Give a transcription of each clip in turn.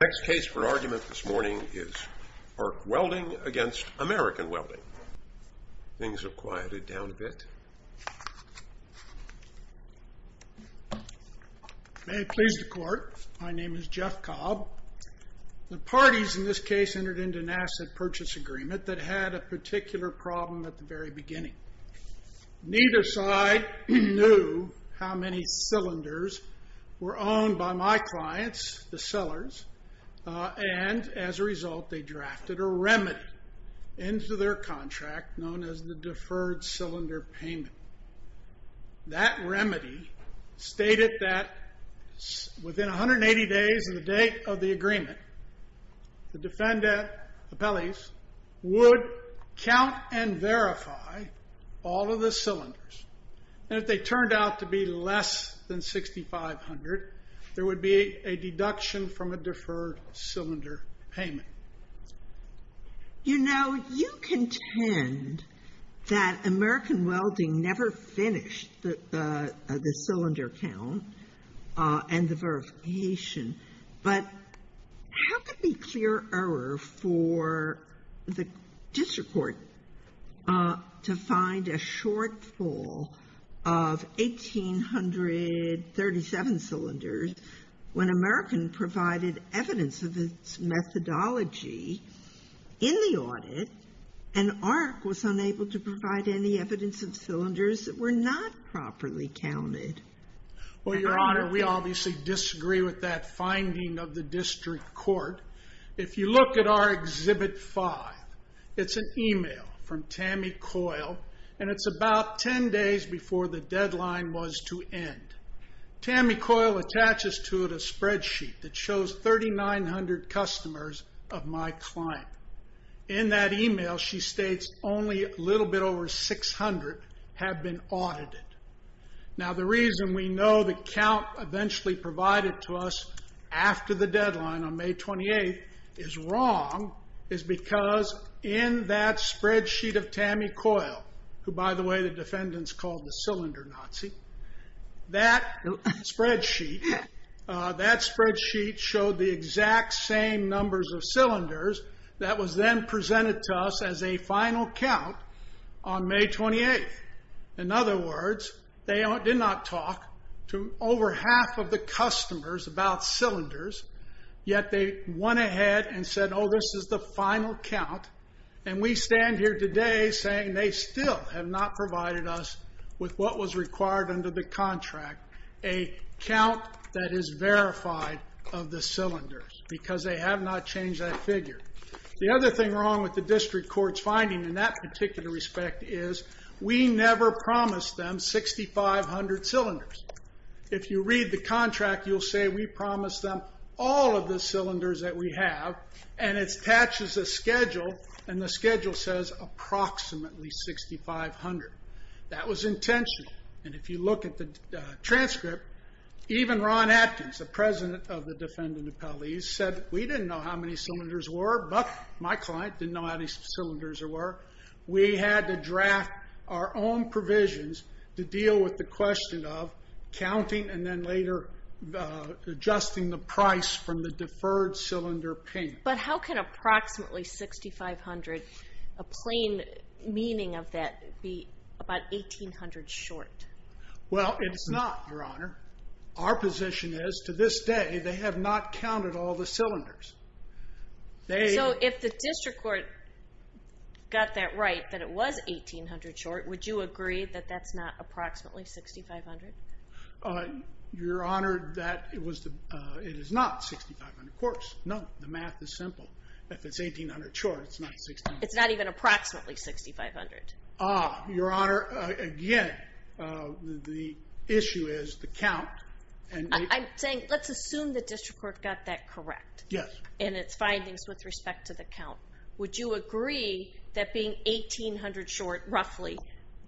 The next case for argument this morning is ARC Welding v. American Welding. Things have quieted down a bit. May it please the Court, my name is Jeff Cobb. The parties in this case entered into an asset purchase agreement that had a particular problem at the very beginning. Neither side knew how many cylinders were owned by my clients, the sellers, and as a result they drafted a remedy into their contract known as the Deferred Cylinder Payment. That remedy stated that within 180 days of the date of the agreement, the defendant, the appellees, would count and verify all of the cylinders. And if they turned out to be less than 6,500, there would be a deduction from a deferred cylinder payment. You know, you contend that American Welding never finished the cylinder count and the verification, but how could there be clear error for the district court to find a shortfall of 1,837 cylinders when American provided evidence of its methodology in the audit and ARC was unable to provide any evidence of cylinders that were not properly counted? Well, Your Honor, we obviously disagree with that finding of the district court. If you look at our Exhibit 5, it's an email from Tammy Coyle, and it's about 10 days before the deadline was to end. Tammy Coyle attaches to it a spreadsheet that shows 3,900 customers of my client. In that email, she states only a little bit over 600 have been audited. Now, the reason we know the count eventually provided to us after the deadline on May 28th is wrong is because in that spreadsheet of Tammy Coyle, who, by the way, the defendants called the Cylinder Nazi, that spreadsheet showed the exact same numbers of cylinders that was then presented to us as a final count on May 28th. In other words, they did not talk to over half of the customers about cylinders, yet they went ahead and said, oh, this is the final count. And we stand here today saying they still have not provided us with what was required under the contract, a count that is verified of the cylinders because they have not changed that figure. The other thing wrong with the district court's finding in that particular respect is we never promised them 6,500 cylinders. If you read the contract, you'll say we promised them all of the cylinders that we have, and it attaches a schedule, and the schedule says approximately 6,500. That was intentional. And if you look at the transcript, even Ron Atkins, the president of the defendant appellees, said we didn't know how many cylinders were, but my client didn't know how many cylinders there were. We had to draft our own provisions to deal with the question of counting and then later adjusting the price from the deferred cylinder pin. But how can approximately 6,500, a plain meaning of that, be about 1,800 short? Well, it's not, Your Honor. Our position is to this day they have not counted all the cylinders. So if the district court got that right, that it was 1,800 short, would you agree that that's not approximately 6,500? Your Honor, it is not 6,500 quarts. No, the math is simple. If it's 1,800 short, it's not 6,500. It's not even approximately 6,500. Ah, Your Honor, again, the issue is the count. I'm saying let's assume the district court got that correct. Yes. And its findings with respect to the count. Would you agree that being 1,800 short, roughly,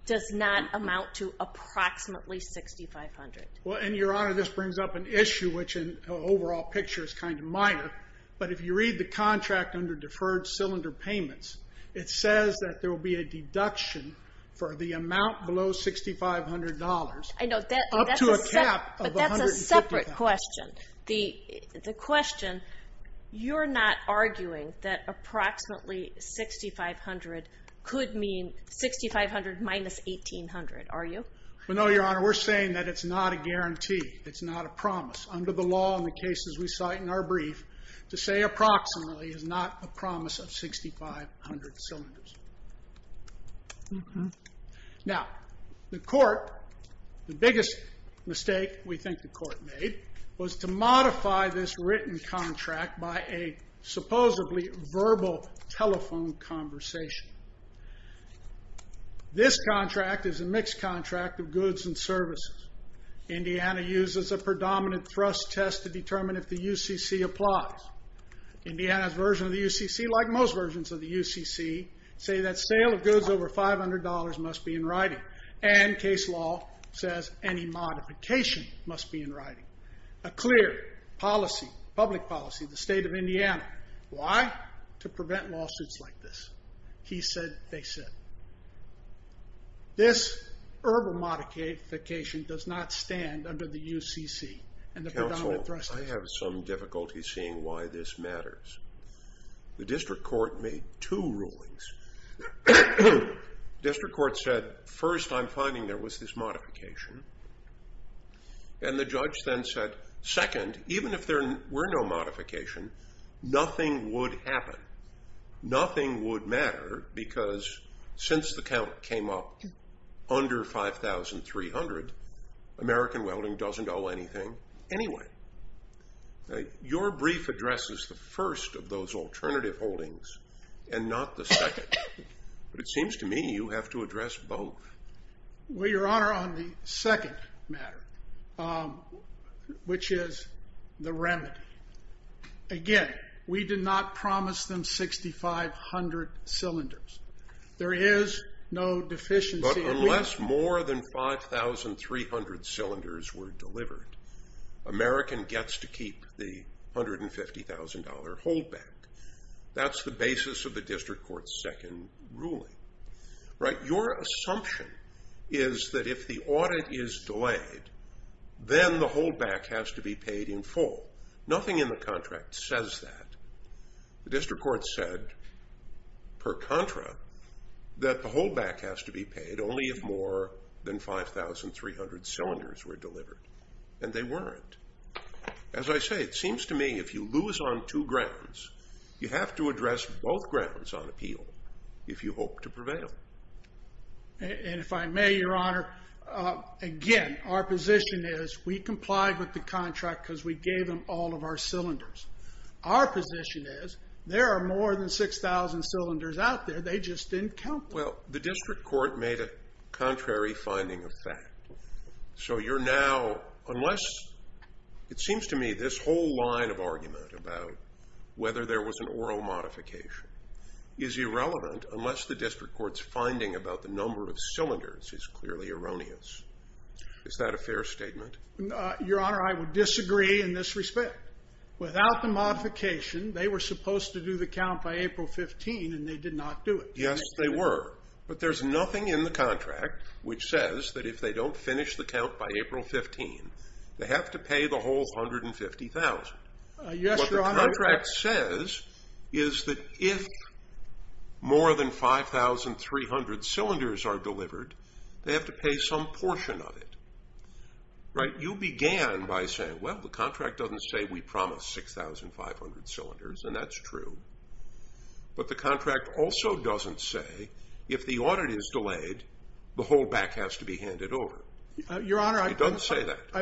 does not amount to approximately 6,500? Well, and Your Honor, this brings up an issue which in the overall picture is kind of minor. But if you read the contract under deferred cylinder payments, it says that there will be a deduction for the amount below $6,500 up to a cap of $150,000. But that's a separate question. The question, you're not arguing that approximately 6,500 could mean 6,500 minus 1,800, are you? Well, no, Your Honor. We're saying that it's not a guarantee. It's not a promise. Under the law and the cases we cite in our brief, to say approximately is not a promise of 6,500 cylinders. Now, the court, the biggest mistake we think the court made, was to modify this written contract by a supposedly verbal telephone conversation. This contract is a mixed contract of goods and services. Indiana uses a predominant thrust test to determine if the UCC applies. Indiana's version of the UCC, like most versions of the UCC, say that sale of goods over $500 must be in writing. And case law says any modification must be in writing. A clear policy, public policy, the state of Indiana. Why? To prevent lawsuits like this. He said, they said. This verbal modification does not stand under the UCC and the predominant thrust test. Counsel, I have some difficulty seeing why this matters. The district court made two rulings. District court said, first, I'm finding there was this modification. And the judge then said, second, even if there were no modification, nothing would happen. Nothing would matter because since the count came up under 5,300, American Welding doesn't owe anything anyway. Your brief addresses the first of those alternative holdings and not the second. But it seems to me you have to address both. Well, Your Honor, on the second matter, which is the remedy. Again, we did not promise them 6,500 cylinders. There is no deficiency. But unless more than 5,300 cylinders were delivered, American gets to keep the $150,000 holdback. That's the basis of the district court's second ruling. Your assumption is that if the audit is delayed, then the holdback has to be paid in full. Nothing in the contract says that. The district court said, per contra, that the holdback has to be paid only if more than 5,300 cylinders were delivered. And they weren't. As I say, it seems to me if you lose on two grounds, you have to address both grounds on appeal if you hope to prevail. And if I may, Your Honor, again, our position is we complied with the contract because we gave them all of our cylinders. Our position is there are more than 6,000 cylinders out there. They just didn't count them. Well, the district court made a contrary finding of fact. So you're now unless it seems to me this whole line of argument about whether there was an oral modification is irrelevant unless the district court's finding about the number of cylinders is clearly erroneous. Is that a fair statement? Your Honor, I would disagree in this respect. Without the modification, they were supposed to do the count by April 15, and they did not do it. Yes, they were. But there's nothing in the contract which says that if they don't finish the count by April 15, they have to pay the whole 150,000. Yes, Your Honor. What the contract says is that if more than 5,300 cylinders are delivered, they have to pay some portion of it. Right? You began by saying, well, the contract doesn't say we promised 6,500 cylinders, and that's true. But the contract also doesn't say if the audit is delayed, the whole back has to be handed over. Your Honor, I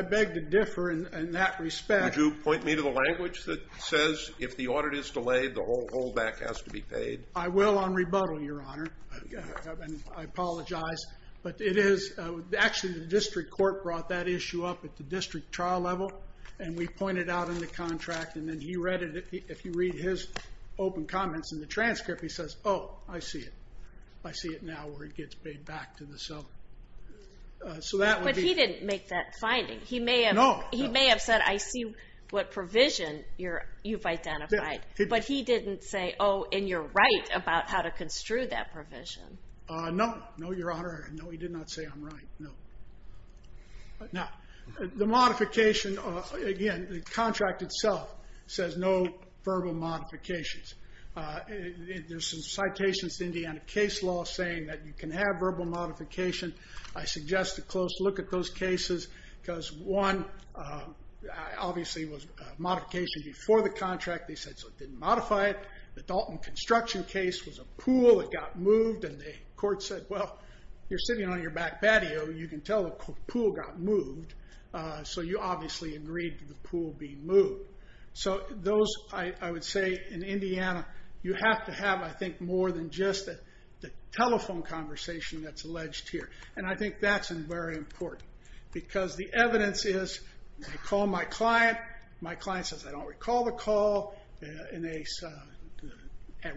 beg to differ in that respect. Would you point me to the language that says if the audit is delayed, the whole back has to be paid? I will on rebuttal, Your Honor, and I apologize. But it is actually the district court brought that issue up at the district trial level, and we pointed out in the contract. And then he read it. If you read his open comments in the transcript, he says, oh, I see it. I see it now where it gets paid back to the seller. But he didn't make that finding. No. He may have said, I see what provision you've identified. But he didn't say, oh, and you're right about how to construe that provision. No. No, Your Honor. No, he did not say I'm right. No. Now, the modification, again, the contract itself says no verbal modifications. There's some citations in the case law saying that you can have verbal modification. I suggest a close look at those cases, because one, obviously, was modification before the contract. They said, so it didn't modify it. The Dalton construction case was a pool that got moved, and the court said, well, you're sitting on your back patio. You can tell the pool got moved. So you obviously agreed to the pool being moved. So those, I would say, in Indiana, you have to have, I think, more than just the telephone conversation that's alleged here. And I think that's very important, because the evidence is I call my client. My client says, I don't recall the call. And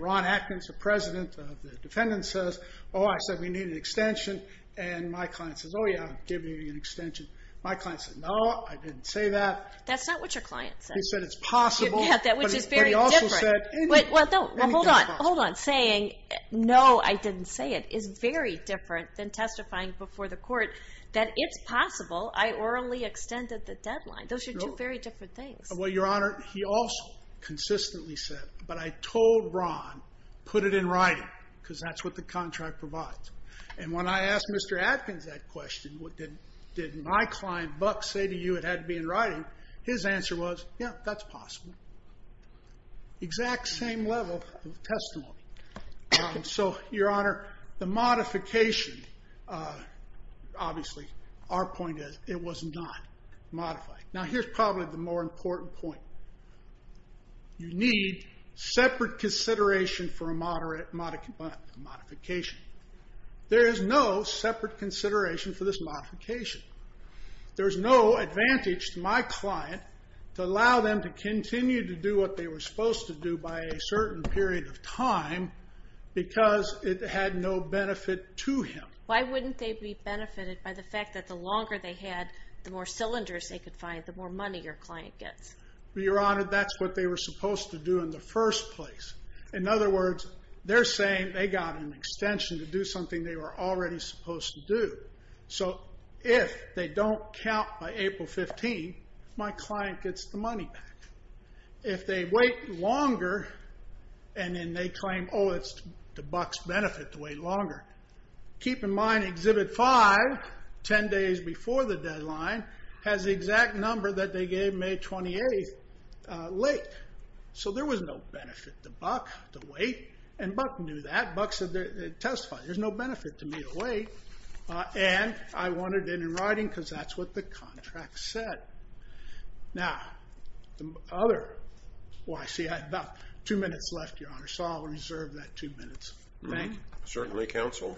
Ron Atkins, the president of the defendant, says, oh, I said we need an extension. And my client says, oh, yeah, give me an extension. My client says, no, I didn't say that. That's not what your client said. He said it's possible. Yeah, which is very different. But he also said, and he testified. Well, hold on. Hold on. Saying, no, I didn't say it is very different than testifying before the court that it's possible. I orally extended the deadline. Those are two very different things. Well, Your Honor, he also consistently said, but I told Ron, put it in writing, because that's what the contract provides. And when I asked Mr. Atkins that question, did my client, Buck, say to you it had to be in writing, his answer was, yeah, that's possible. Exact same level of testimony. So, Your Honor, the modification, obviously, our point is it was not modified. Now, here's probably the more important point. You need separate consideration for a modification. There is no separate consideration for this modification. There's no advantage to my client to allow them to continue to do what they were supposed to do by a certain period of time because it had no benefit to him. Why wouldn't they be benefited by the fact that the longer they had, the more cylinders they could find, the more money your client gets? Well, Your Honor, that's what they were supposed to do in the first place. In other words, they're saying they got an extension to do something they were already supposed to do. So if they don't count by April 15th, my client gets the money back. If they wait longer and then they claim, oh, it's to Buck's benefit to wait longer, keep in mind Exhibit 5, 10 days before the deadline, has the exact number that they gave May 28th late. So there was no benefit to Buck to wait. And Buck knew that. Buck testified, there's no benefit to me to wait. And I wanted it in writing because that's what the contract said. Now, the other, well, I see I have about two minutes left, Your Honor. So I'll reserve that two minutes. Thank you. Certainly, counsel.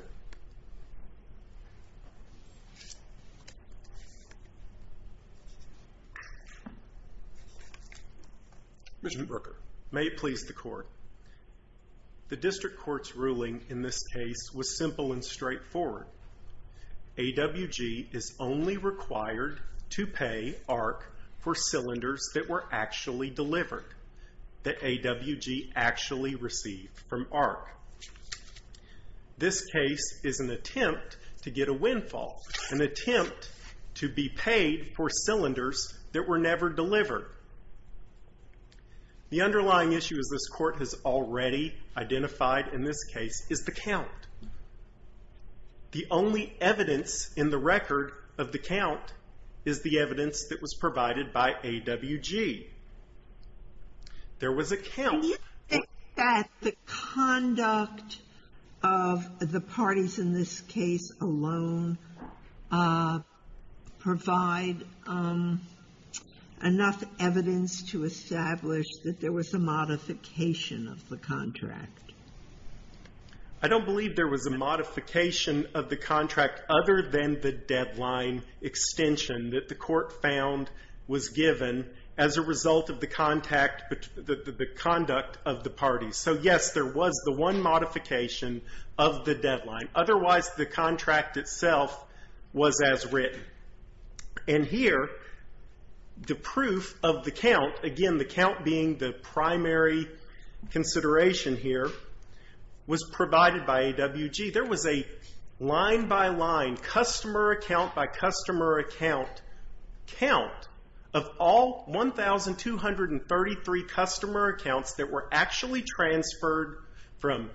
Mr. Brooker. May it please the Court. The district court's ruling in this case was simple and straightforward. AWG is only required to pay ARC for cylinders that were actually delivered, that AWG actually received from ARC. This case is an attempt to get a windfall, an attempt to be paid for cylinders that were never delivered. The underlying issue, as this court has already identified in this case, is the count. The only evidence in the record of the count is the evidence that was provided by AWG. There was a count. Do you think that the conduct of the parties in this case alone provide enough evidence to establish that there was a modification of the contract? I don't believe there was a modification of the contract other than the deadline extension that the court found was given as a result of the conduct of the parties. So, yes, there was the one modification of the deadline. Otherwise, the contract itself was as written. And here, the proof of the count, again, the count being the primary consideration here, was provided by AWG. There was a line-by-line, customer account-by-customer account count of all 1,233 customer accounts that were actually transferred from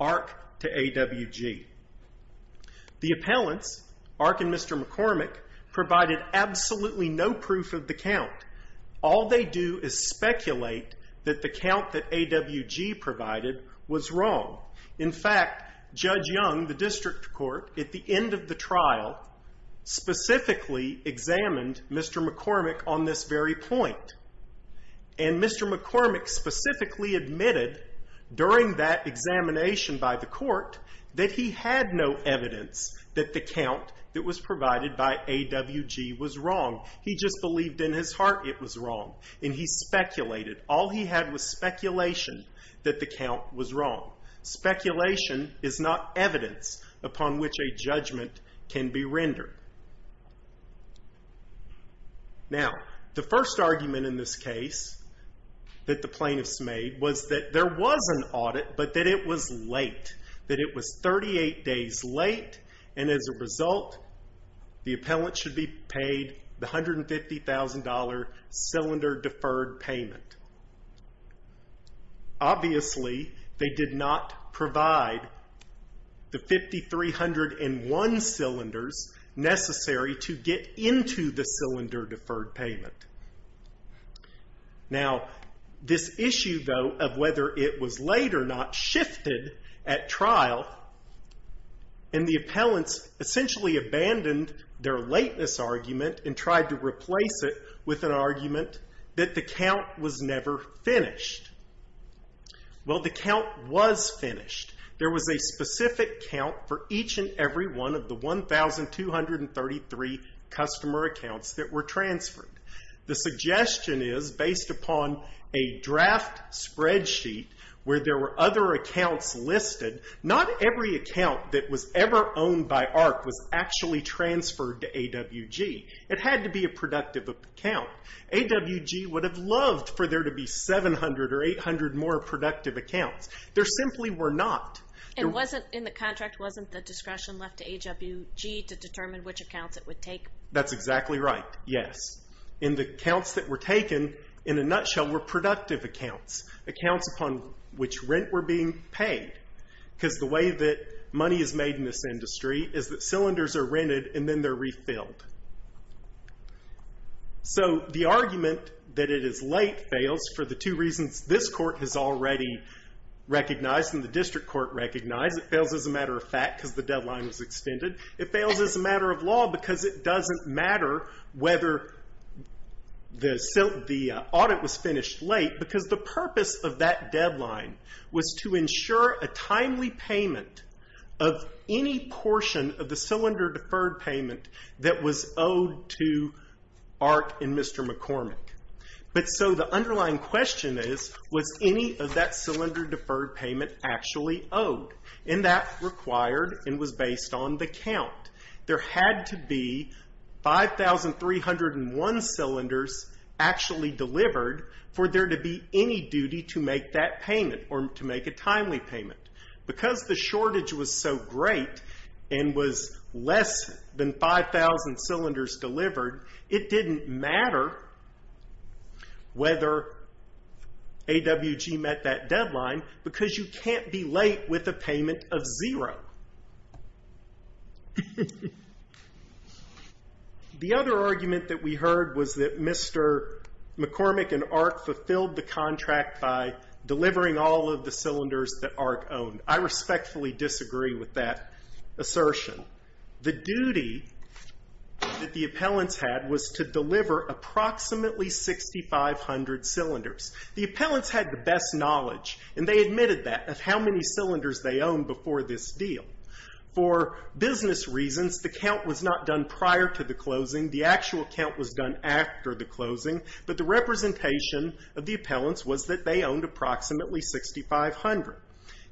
ARC to AWG. The appellants, ARC and Mr. McCormick, provided absolutely no proof of the count. All they do is speculate that the count that AWG provided was wrong. In fact, Judge Young, the district court, at the end of the trial, specifically examined Mr. McCormick on this very point. And Mr. McCormick specifically admitted during that examination by the court that he had no evidence that the count that was provided by AWG was wrong. He just believed in his heart it was wrong, and he speculated. All he had was speculation that the count was wrong. Speculation is not evidence upon which a judgment can be rendered. Now, the first argument in this case that the plaintiffs made was that there was an audit, but that it was late. That it was 38 days late, and as a result, the appellant should be paid the $150,000 cylinder deferred payment. Obviously, they did not provide the 5,301 cylinders necessary to get into the cylinder deferred payment. Now, this issue, though, of whether it was late or not shifted at trial. And the appellants essentially abandoned their lateness argument and tried to replace it with an argument that the count was never finished. Well, the count was finished. There was a specific count for each and every one of the 1,233 customer accounts that were transferred. The suggestion is, based upon a draft spreadsheet where there were other accounts listed, not every account that was ever owned by ARC was actually transferred to AWG. It had to be a productive account. AWG would have loved for there to be 700 or 800 more productive accounts. There simply were not. And wasn't, in the contract, wasn't the discretion left to AWG to determine which accounts it would take? That's exactly right, yes. In the counts that were taken, in a nutshell, were productive accounts. Accounts upon which rent were being paid. Because the way that money is made in this industry is that cylinders are rented and then they're refilled. So the argument that it is late fails for the two reasons this court has already recognized and the district court recognized. It fails as a matter of fact because the deadline was extended. It fails as a matter of law because it doesn't matter whether the audit was finished late. Because the purpose of that deadline was to ensure a timely payment of any portion of the cylinder deferred payment that was owed to ARC and Mr. McCormick. But so the underlying question is, was any of that cylinder deferred payment actually owed? And that required and was based on the count. There had to be 5,301 cylinders actually delivered for there to be any duty to make that payment or to make a timely payment. Because the shortage was so great and was less than 5,000 cylinders delivered, it didn't matter whether AWG met that deadline because you can't be late with a payment of zero. The other argument that we heard was that Mr. McCormick and ARC fulfilled the contract by delivering all of the cylinders that ARC owned. I respectfully disagree with that assertion. The duty that the appellants had was to deliver approximately 6,500 cylinders. The appellants had the best knowledge and they admitted that of how many cylinders they owned before this deal. For business reasons, the count was not done prior to the closing. The actual count was done after the closing. But the representation of the appellants was that they owned approximately 6,500.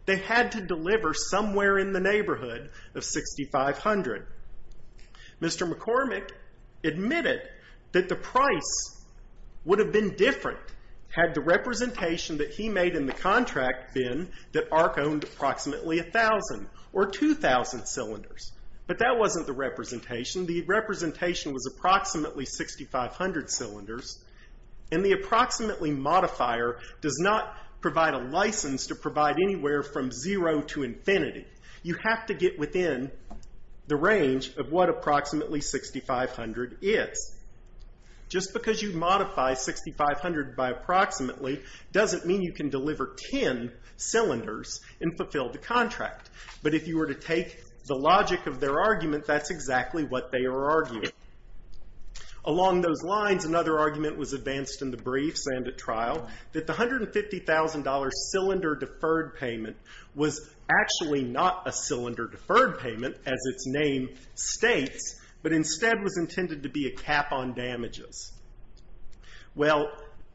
They had to deliver somewhere in the neighborhood of 6,500. Mr. McCormick admitted that the price would have been different had the representation that he made in the contract been that ARC owned approximately 1,000 or 2,000 cylinders. But that wasn't the representation. The representation was approximately 6,500 cylinders. And the approximately modifier does not provide a license to provide anywhere from zero to infinity. You have to get within the range of what approximately 6,500 is. Just because you modify 6,500 by approximately doesn't mean you can deliver 10 cylinders and fulfill the contract. But if you were to take the logic of their argument, that's exactly what they are arguing. Along those lines, another argument was advanced in the briefs and at trial that the $150,000 cylinder deferred payment was actually not a cylinder deferred payment, as its name states, but instead was intended to be a cap on damages. Well,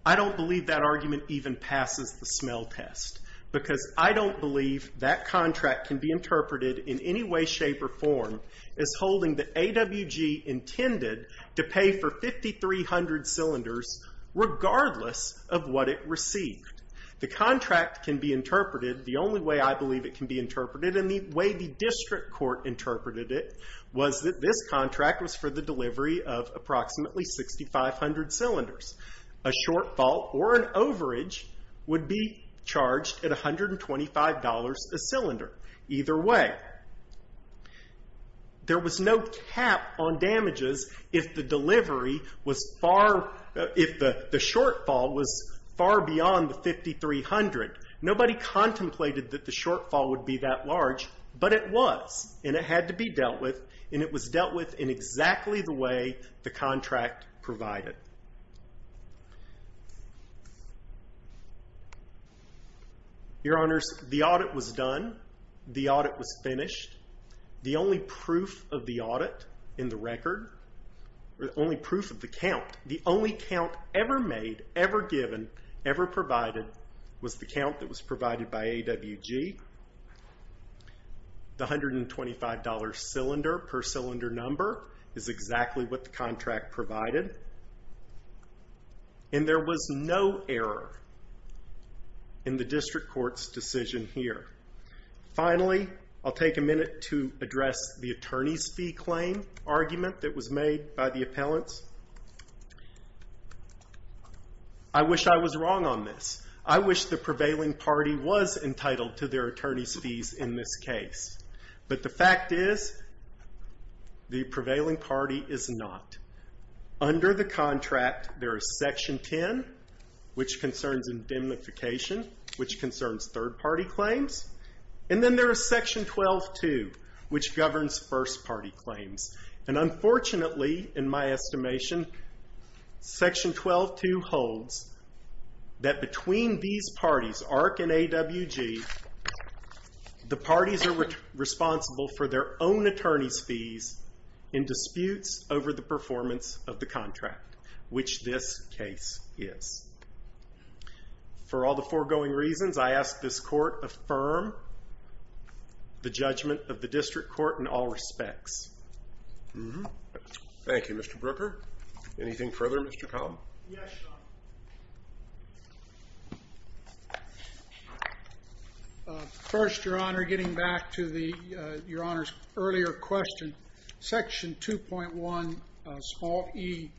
I don't believe that argument even passes the smell test because I don't believe that contract can be interpreted in any way, shape, or form as holding the AWG intended to pay for 5,300 cylinders regardless of what it received. The contract can be interpreted, the only way I believe it can be interpreted, and the way the district court interpreted it, was that this contract was for the delivery of approximately 6,500 cylinders. A shortfall or an overage would be charged at $125 a cylinder, either way. There was no cap on damages if the delivery was far, if the shortfall was far beyond the 5,300. Nobody contemplated that the shortfall would be that large, but it was, and it had to be dealt with, and it was dealt with in exactly the way the contract provided. Your Honors, the audit was done. The audit was finished. The only proof of the audit in the record, or the only proof of the count, the only count ever made, ever given, ever provided, was the count that was provided by AWG. The $125 cylinder per cylinder number is exactly what the contract provided. And there was no error in the district court's decision here. Finally, I'll take a minute to address the attorney's fee claim argument that was made by the appellants. I wish I was wrong on this. I wish the prevailing party was entitled to their attorney's fees in this case. But the fact is, the prevailing party is not. Under the contract, there is Section 10, which concerns indemnification, which concerns third-party claims. And then there is Section 12-2, which governs first-party claims. And unfortunately, in my estimation, Section 12-2 holds that between these parties, ARC and AWG, the parties are responsible for their own attorney's fees in disputes over the performance of the contract, which this case is. For all the foregoing reasons, I ask this court affirm the judgment of the district court in all respects. Thank you, Mr. Brooker. Anything further, Mr. Kahn? Yes, Your Honor. First, Your Honor, getting back to Your Honor's earlier question, Section 2.1e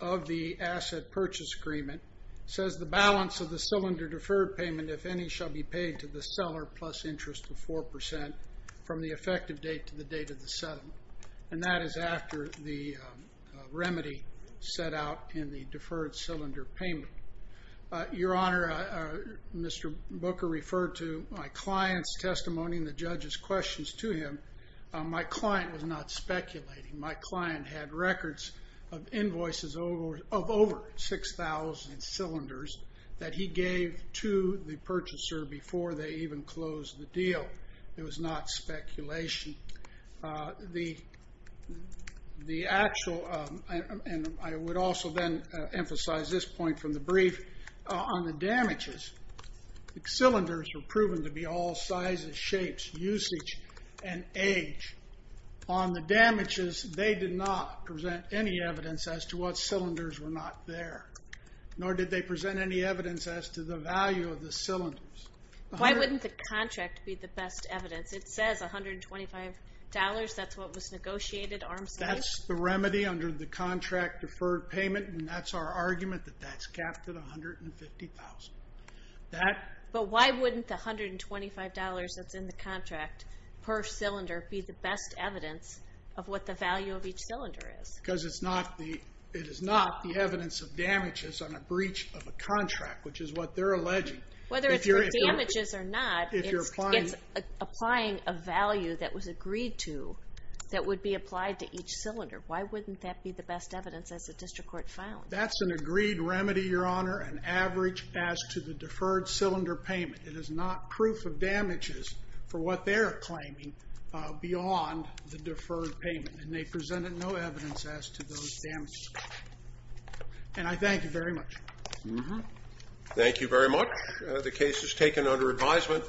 of the Asset Purchase Agreement says the balance of the cylinder deferred payment, if any, shall be paid to the seller plus interest of 4% from the effective date to the date of the settlement. And that is after the remedy set out in the deferred cylinder payment. Your Honor, Mr. Brooker referred to my client's testimony and the judge's questions to him. My client was not speculating. My client had records of invoices of over 6,000 cylinders that he gave to the purchaser before they even closed the deal. It was not speculation. The actual, and I would also then emphasize this point from the brief, on the damages, cylinders were proven to be all sizes, shapes, usage, and age. On the damages, they did not present any evidence as to what cylinders were not there, nor did they present any evidence as to the value of the cylinders. Why wouldn't the contract be the best evidence? It says $125. That's what was negotiated arm's length? That's the remedy under the contract deferred payment, and that's our argument that that's capped at $150,000. But why wouldn't the $125 that's in the contract per cylinder be the best evidence of what the value of each cylinder is? Because it is not the evidence of damages on a breach of a contract, which is what they're alleging. Whether it's for damages or not, it's applying a value that was agreed to that would be applied to each cylinder. Why wouldn't that be the best evidence as the district court found? That's an agreed remedy, Your Honor, an average as to the deferred cylinder payment. It is not proof of damages for what they're claiming beyond the deferred payment, and they presented no evidence as to those damages. And I thank you very much. Thank you very much. The case is taken under advisement.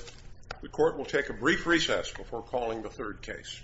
The court will take a brief recess before calling the third case.